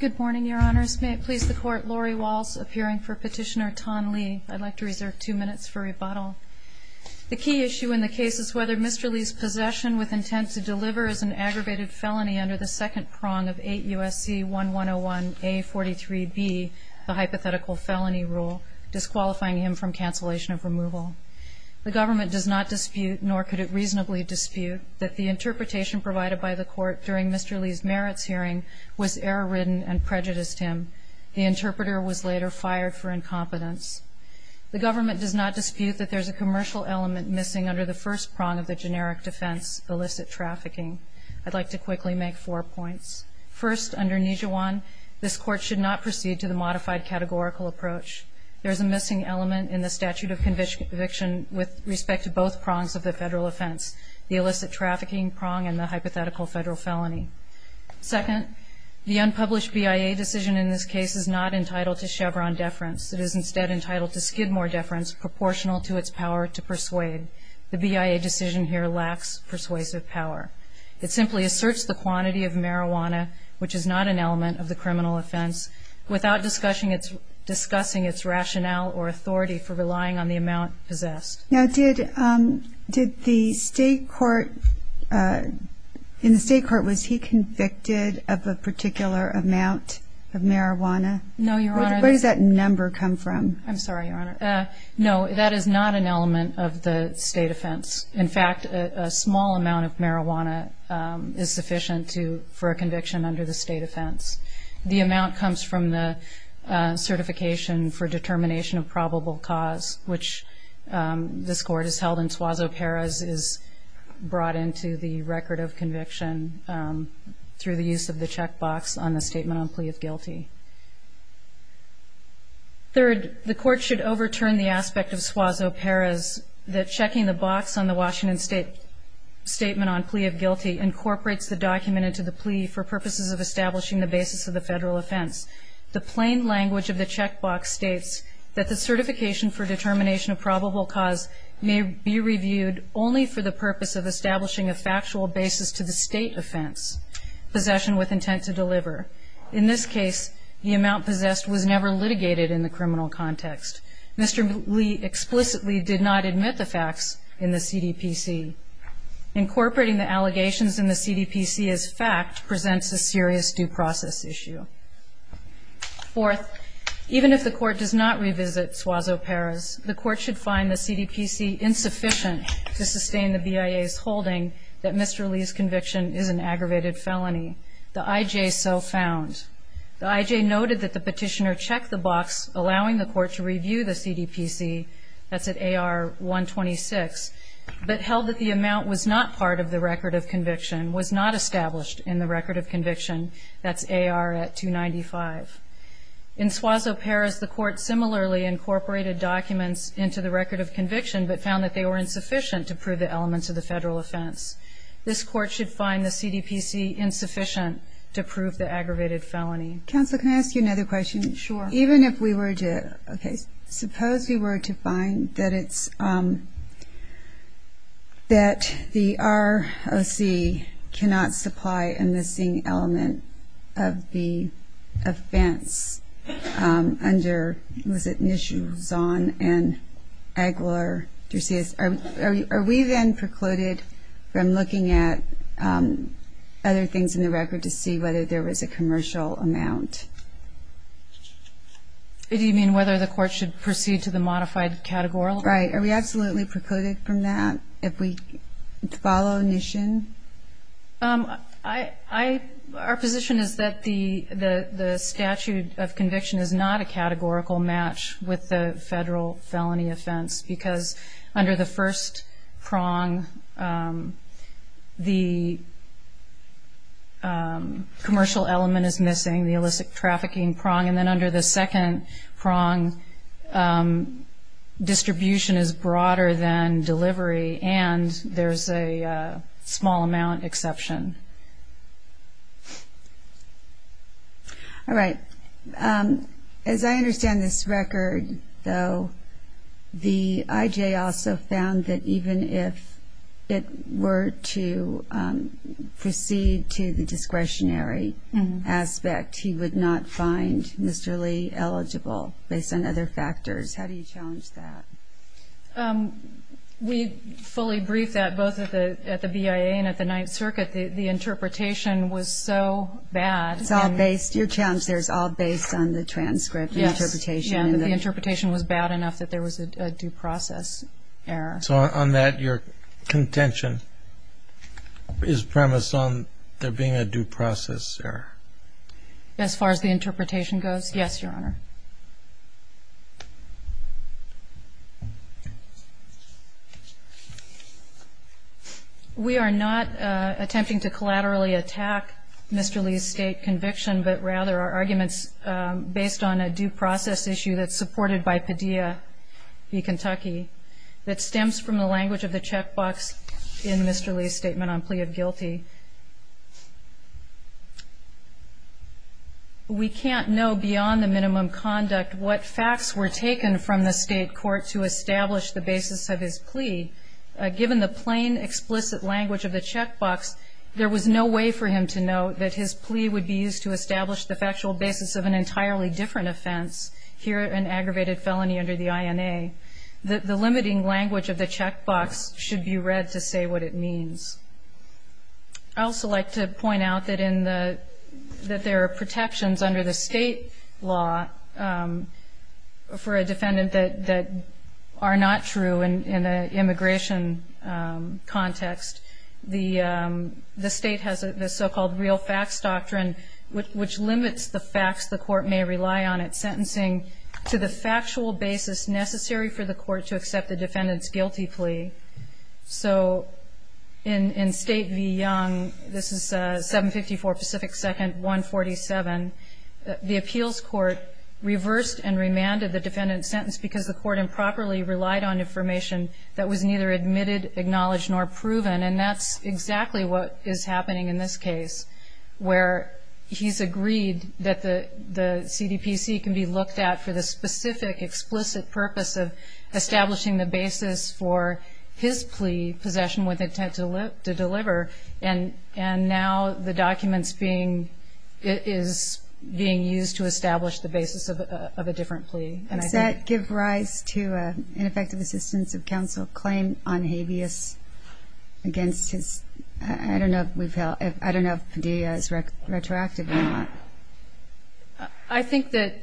Good morning, Your Honors. May it please the Court, Lori Walsh, appearing for Petitioner Tom Lee. I'd like to reserve two minutes for rebuttal. The key issue in the case is whether Mr. Lee's possession with intent to deliver is an aggravated felony under the second prong of 8 U.S.C. 1101A.43b, the hypothetical felony rule, disqualifying him from cancellation of removal. The government does not dispute, nor could it reasonably dispute, that the interpretation provided by the Court during Mr. Lee's merits hearing was error-ridden and prejudiced him. The interpreter was later fired for incompetence. The government does not dispute that there is a commercial element missing under the first prong of the generic defense, illicit trafficking. I'd like to quickly make four points. First, under Nijhawan, this Court should not proceed to the modified categorical approach. There is a missing element in the statute of conviction with respect to both prongs of the federal offense, the illicit trafficking prong and the hypothetical federal felony. Second, the unpublished BIA decision in this case is not entitled to Chevron deference. It is instead entitled to Skidmore deference proportional to its power to persuade. The BIA decision here lacks persuasive power. It simply asserts the quantity of marijuana, which is not an element of the criminal offense, without discussing its rationale or authority for relying on the amount possessed. Now, did the State Court, in the State Court, was he convicted of a particular amount of marijuana? No, Your Honor. Where does that number come from? I'm sorry, Your Honor. No, that is not an element of the State offense. In fact, a small amount of marijuana is sufficient for a conviction under the State offense. The amount comes from the certification for determination of probable cause, which this Court has held in Suazo-Perez, is brought into the record of conviction through the use of the check box on the statement on plea of guilty. Third, the Court should overturn the aspect of Suazo-Perez that checking the box on the Washington State statement on plea of guilty incorporates the document into the plea for The plain language of the check box states that the certification for determination of probable cause may be reviewed only for the purpose of establishing a factual basis to the State offense, possession with intent to deliver. In this case, the amount possessed was never litigated in the criminal context. Mr. Lee explicitly did not admit the facts in the CDPC. Incorporating the allegations in the CDPC as fact presents a serious due process issue. Fourth, even if the Court does not revisit Suazo-Perez, the Court should find the CDPC insufficient to sustain the BIA's holding that Mr. Lee's conviction is an aggravated felony. The IJ so found. The IJ noted that the petitioner checked the box allowing the Court to review the CDPC, that's at AR 126, but held that the amount was not part of the record of conviction, that's AR at 295. In Suazo-Perez, the Court similarly incorporated documents into the record of conviction but found that they were insufficient to prove the elements of the federal offense. This Court should find the CDPC insufficient to prove the aggravated felony. Counsel, can I ask you another question? Sure. Even if we were to, okay, suppose we were to find that it's, um, that the ROC cannot supply a missing element of the offense, um, under, was it Nishin, Zahn, and Agler, Dursias, are we then precluded from looking at, um, other things in the record to see whether there was a commercial amount? Do you mean whether the Court should proceed to the modified categorical? Right. Are we absolutely precluded from that if we follow Nishin? Um, I, I, our position is that the, the, the statute of conviction is not a categorical match with the federal felony offense because under the first prong, um, the, um, commercial element is missing, the illicit trafficking prong, and then under the second prong, um, there is a small amount exception. All right. Um, as I understand this record, though, the IJ also found that even if it were to, um, proceed to the discretionary aspect, he would not find Mr. Lee eligible based on other factors. How do you challenge that? Um, we fully briefed that both at the, at the BIA and at the Ninth Circuit. The, the interpretation was so bad. It's all based, your challenge there is all based on the transcript, the interpretation. Yes. The interpretation was bad enough that there was a, a due process error. So on, on that, your contention is premised on there being a due process error? As far as the interpretation goes, yes, Your Honor. Okay. We are not, uh, attempting to collaterally attack Mr. Lee's state conviction, but rather our arguments, um, based on a due process issue that's supported by Padilla v. Kentucky that stems from the language of the checkbox in Mr. Lee's statement on plea of guilty. We can't know beyond the minimum conduct what facts were taken from the state court to establish the basis of his plea. Given the plain, explicit language of the checkbox, there was no way for him to know that his plea would be used to establish the factual basis of an entirely different offense, here an aggravated felony under the INA. The, the limiting language of the checkbox should be read to say what it means. I also like to point out that in the, that there are protections under the state law, um, for a defendant that, that are not true in, in an immigration, um, context. The, um, the state has a, the so-called real facts doctrine, which, which limits the facts the court may rely on at sentencing to the factual basis necessary for the court to accept the defendant's guilty plea. So in, in State v. Young, this is, uh, 754 Pacific 2nd, 147, the appeals court reversed and remanded the defendant's sentence because the court improperly relied on information that was neither admitted, acknowledged, nor proven. And that's exactly what is happening in this case, where he's agreed that the, the CDPC can be looked at for the specific explicit purpose of establishing the basis for his plea possession with intent to live, to deliver. And, and now the documents being, is being used to establish the basis of a, of a different plea. Does that give rise to an ineffective assistance of counsel claim on habeas against his, I don't know if we've held, I don't know if Padilla is retroactive or not. I think that,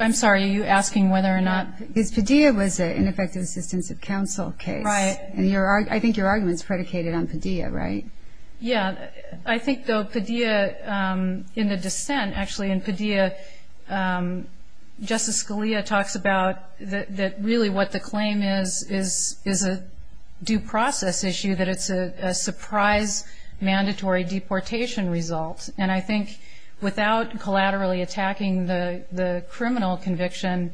I'm sorry, are you asking whether or not. Because Padilla was an ineffective assistance of counsel case. Right. And your, I think your argument's predicated on Padilla, right? Yeah. I think though Padilla, um, in the dissent actually in Padilla, um, Justice Scalia talks about that, that really what the claim is, is, is a due process issue that it's a surprise mandatory deportation result. And I think without collaterally attacking the, the criminal conviction,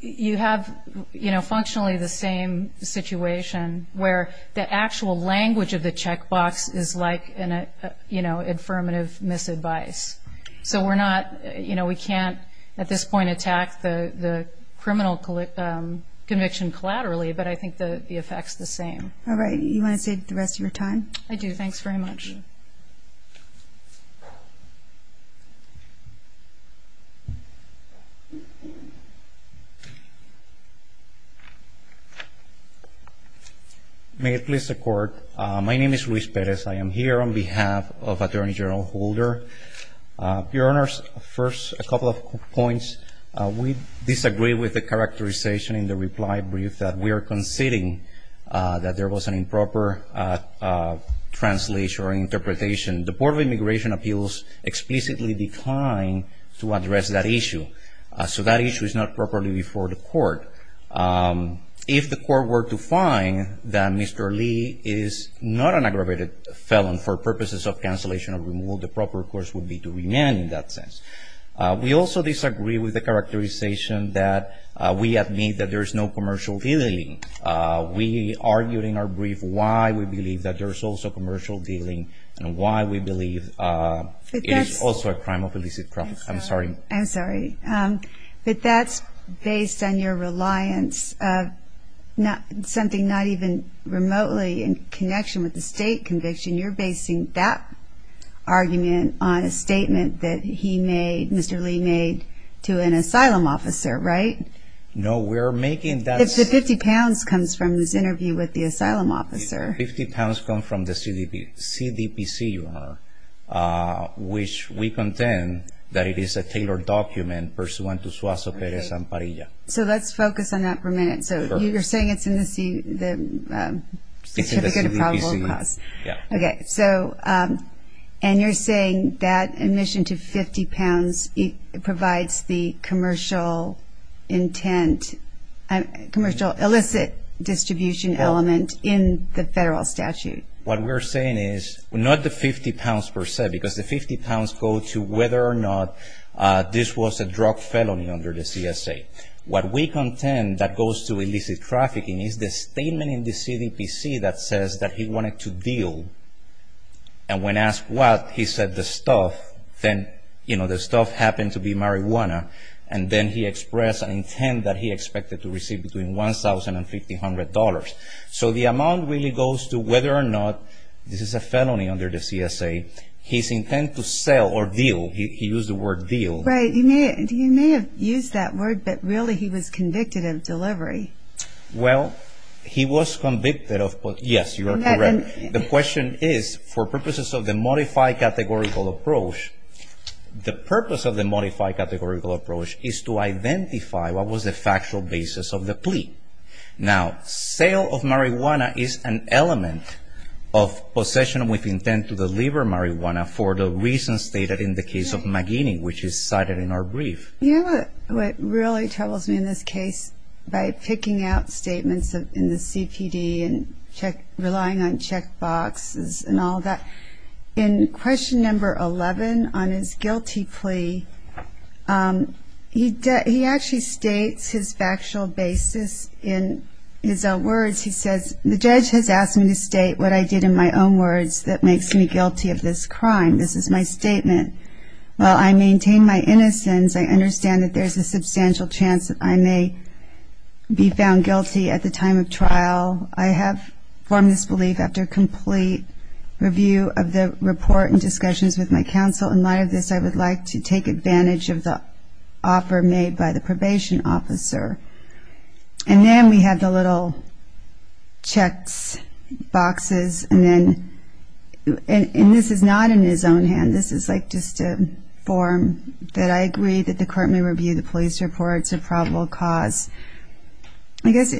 you have, you know, functionally the same situation where the actual language of the checkbox is like an, you know, affirmative misadvice. So we're not, you know, we can't at this point attack the, the criminal conviction collaterally, but I think the effect's the same. All right. You want to save the rest of your time? I do. Thanks very much. May it please the Court. My name is Luis Perez. I am here on behalf of Attorney General Holder. Your Honors, first a couple of points. We disagree with the characterization in the reply brief that we are conceding that there was an inappropriate translation or interpretation. The Board of Immigration Appeals explicitly declined to address that issue. So that issue is not properly before the Court. If the Court were to find that Mr. Lee is not an aggravated felon for purposes of cancellation or removal, the proper course would be to remain in that sense. We also disagree with the characterization that we admit that there's no commercial dealing. We argued in our brief why we believe that there's also commercial dealing and why we believe it is also a crime of illicit profit. I'm sorry. I'm sorry. But that's based on your reliance of something not even remotely in connection with the state conviction. You're basing that argument on a statement that he made, Mr. Lee made, to an emission to 50 pounds. 50 pounds comes from his interview with the Asylum Officer. 50 pounds comes from the CDPC, Your Honor, which we contend that it is a tailored document pursuant to Suazo-Perez and Parilla. So let's focus on that for a minute. So you're saying it's in the CDPC? It's in the CDPC, yeah. Okay. And you're saying that there's a commercial intent, commercial illicit distribution element in the federal statute? What we're saying is not the 50 pounds per se, because the 50 pounds go to whether or not this was a drug felony under the CSA. What we contend that goes to illicit trafficking is the statement in the CDPC that says that he wanted to deal. And when asked what, he said the stuff. Then, you know, the stuff happened to be marijuana. And then he expressed an intent that he expected to receive between $1,000 and $1,500. So the amount really goes to whether or not this is a felony under the CSA. His intent to sell or deal, he used the word deal. Right. He may have used that word, but really he was convicted of delivery. Well, he was convicted of delivery. Now, sale of marijuana is an element of possession with intent to deliver marijuana for the reasons stated in the case of McGinney, which is cited in our brief. You know what really troubles me in this case? By picking out statements in the CPD and relying on checkboxes and all that. In question number 11 on his guilty plea, he actually states his factual basis in his own words. He says, the judge has asked me to state what I did in my own words that makes me guilty of this crime. This is my statement. While I maintain my innocence, I understand that there's a substantial chance that I may be found guilty at the time of trial. I have formed this belief after complete review of the report and discussions with my counsel. In light of this, I would like to take advantage of the offer made by the probation officer. And then we have the little checks, boxes, and then, and this is not in his own hand. This is like just a form that I agree that the court may review the police reports of probable cause. I guess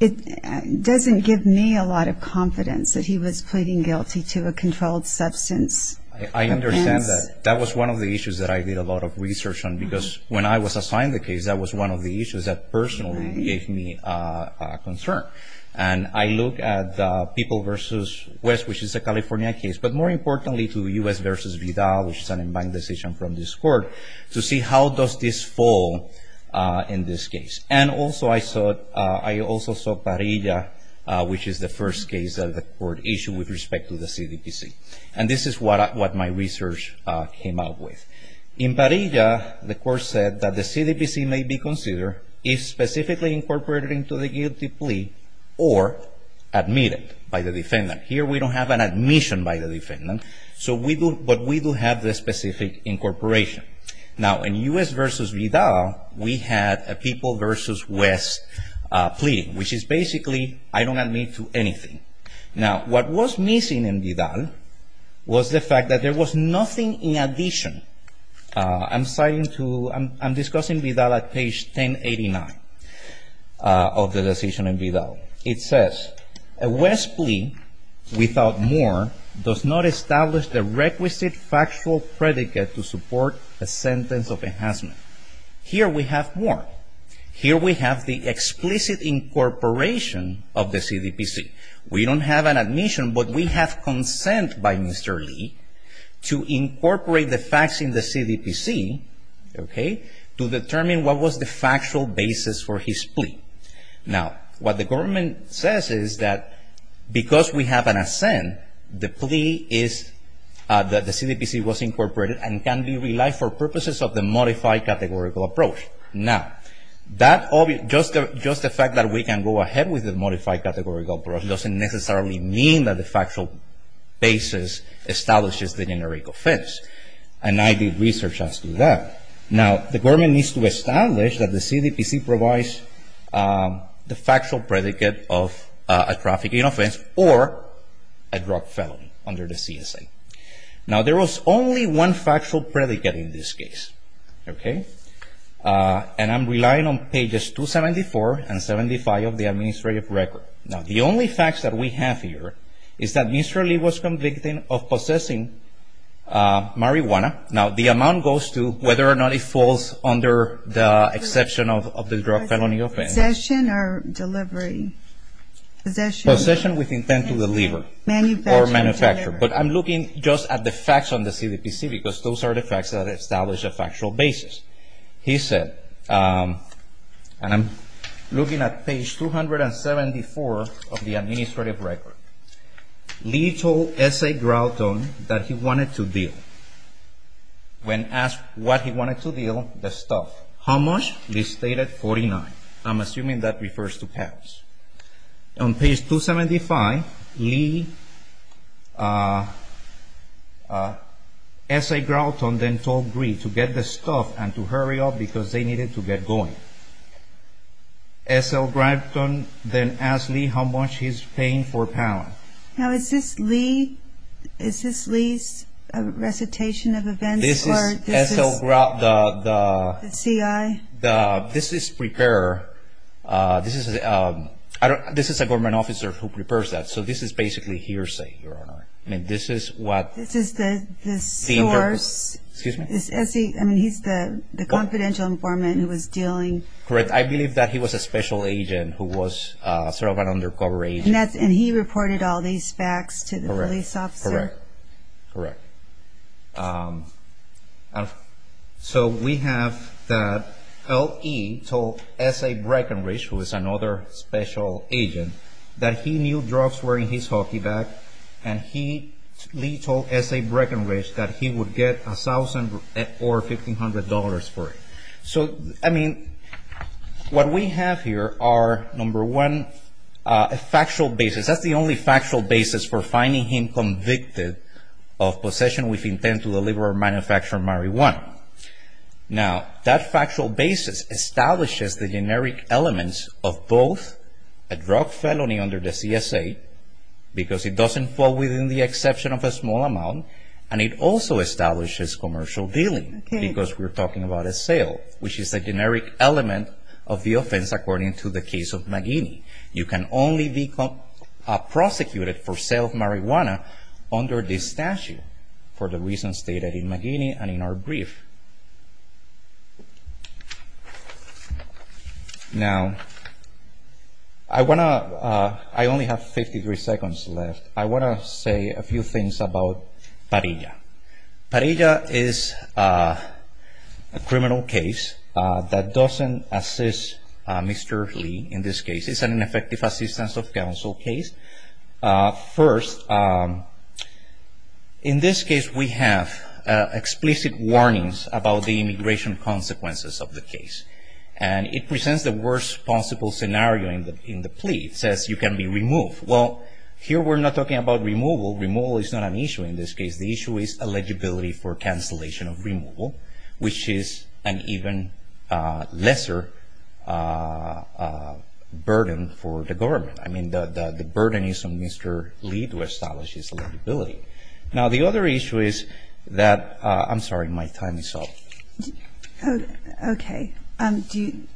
it doesn't give me a lot of confidence that he was pleading guilty to a controlled substance offense. I understand that. That was one of the issues that I did a lot of research on because when I was assigned the case, that was one of the issues that personally gave me concern. And I look at the People v. West, which is a California case, but more importantly to US v. Vidal, which is an in-bank decision from this court, to see how does this fall in this case. And also I saw Parilla, which is the first case that the court issued with respect to the CDPC. And this is what my research came up with. In Parilla, the court said that the CDPC may be considered if specifically incorporated into the guilty plea or admitted by the defendant. Here we don't have an admission by the defendant, but we do have the specific incorporation. Now in US v. Vidal, we had a People v. West plea, which is basically I don't admit to anything. Now what was missing in Vidal was the fact that there was nothing in addition. I'm citing to, I'm discussing Vidal at page 1089 of the decision in Vidal. It says, a West plea without more does not establish the requisite factual predicate to support a sentence of enhancement. Here we have more. Here we have the explicit incorporation of the CDPC. We don't have an admission, but we have consent by Mr. Lee to incorporate the facts in the CDPC, okay, to determine what was the factual basis for the offense. Now because we have an assent, the plea is that the CDPC was incorporated and can be relied for purposes of the modified categorical approach. Now just the fact that we can go ahead with the modified categorical approach doesn't necessarily mean that the factual basis establishes the generic offense. And I did research as to that. Now the government needs to establish that the CDPC provides the factual predicate of a trafficking offense or a drug felony under the CSA. Now there was only one factual predicate in this case, okay, and I'm relying on pages 274 and 75 of the administrative record. Now the only facts that we have here is that Mr. Lee was convicted of possessing marijuana. Now the amount goes to whether or not it falls under the exception of the drug felony offense. Possession or delivery. Possession with intent to deliver or manufacture. But I'm looking just at the facts on the CDPC because those are the facts that establish a factual basis. He said, and I'm looking at page 274 of the administrative record, Lee told S.A. Grouton that he wanted to deal. When asked what he wanted to deal, the stuff. How much? Lee stated 49. I'm assuming that refers to pounds. On page 275, Lee, S.A. Grouton then told Gree to get the stuff and to hurry up because they needed to get going. S.L. Grouton then asked Lee how much he's paying for pounds. Now is this Lee's recitation of events? This is S.L. Grouton, the C.I.? This is a government officer who prepares that. So this is basically hearsay, Your Honor. This is the source. He's the confidential informant who was dealing. Correct. I believe that he was a special agent who was sort of an undercover agent. And he reported all these facts to the police officer. Correct. So we have that L.E. told S.A. Breckenridge, who is another special agent, that he knew drugs were in his hockey bag and he told S.A. Breckenridge that he would get $1,000 or $1,500 for it. So, I mean, what we have here are, number one, a factual basis. That's the only factual basis for finding him convicted of possession with intent to deliver or manufacture marijuana. Now, that factual basis establishes the generic elements of both a drug felony under the C.S.A., because it doesn't fall within the exception of a small amount, and it also establishes commercial dealing, because we're talking about a sale, which is a generic element of the offense according to the case of McGinney. You can only be prosecuted for sale of marijuana under this statute, for the reasons stated in McGinney and in our brief. Now, I only have 53 seconds left. I want to say a few things about Parilla. Parilla is a criminal case that doesn't assist Mr. Lee in this case. It's an ineffective assistance of counsel case. First, in this case, we have explicit warnings about the immigration consequences of the case, and it presents the worst possible scenario in the plea. It says you can be removed. Well, here we're not talking about removal. Removal is not an issue in this case. The issue is eligibility for cancellation of removal, which is an even lesser burden for the government. I mean, the burden is on Mr. Lee to establish his eligibility. Now, the other issue is that... I'm sorry. My time is up. Okay.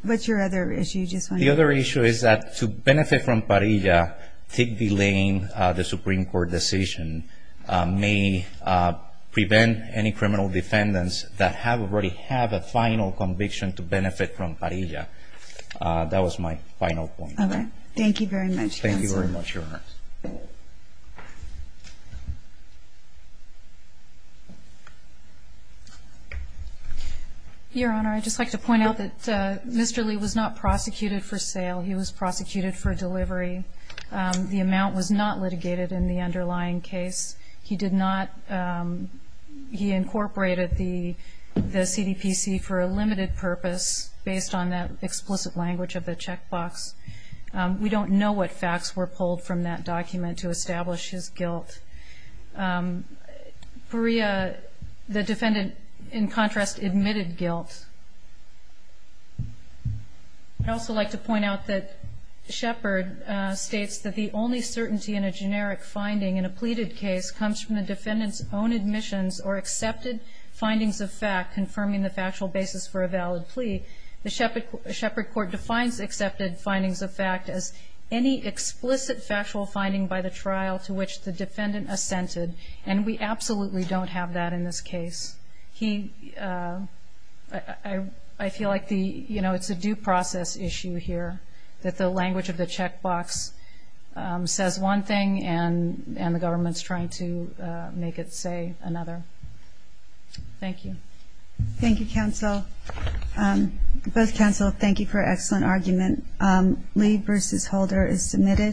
What's your other issue? The other issue is that to benefit from Parilla, delaying the Supreme Court decision may prevent any criminal defendants that already have a final conviction to benefit from Parilla. That was my final point. Okay. Thank you very much, counsel. Thank you very much, Your Honor. Your Honor, I'd just like to point out that Mr. Lee was not prosecuted for sale. He was prosecuted for delivery. The amount was not litigated in the underlying case. He did not... He incorporated the CDPC for a limited purpose based on that explicit language of the checkbox. We don't know what facts were pulled from that document to establish his guilt. Parilla, the defendant, in contrast, admitted guilt. I'd also like to point out that Shepard states that the only certainty in a generic finding in a pleaded case comes from the defendant's own admissions or accepted findings of fact confirming the factual basis for a valid plea. The Shepard Court defines accepted findings of fact as any explicit factual finding by the trial to which the defendant assented, and we absolutely don't have that in this case. I feel like it's a due process issue here, that the language of the checkbox says one thing and the government's trying to make it say another. Thank you. Thank you, counsel. Both counsel, thank you for an excellent argument. Lee v. Holder is submitted.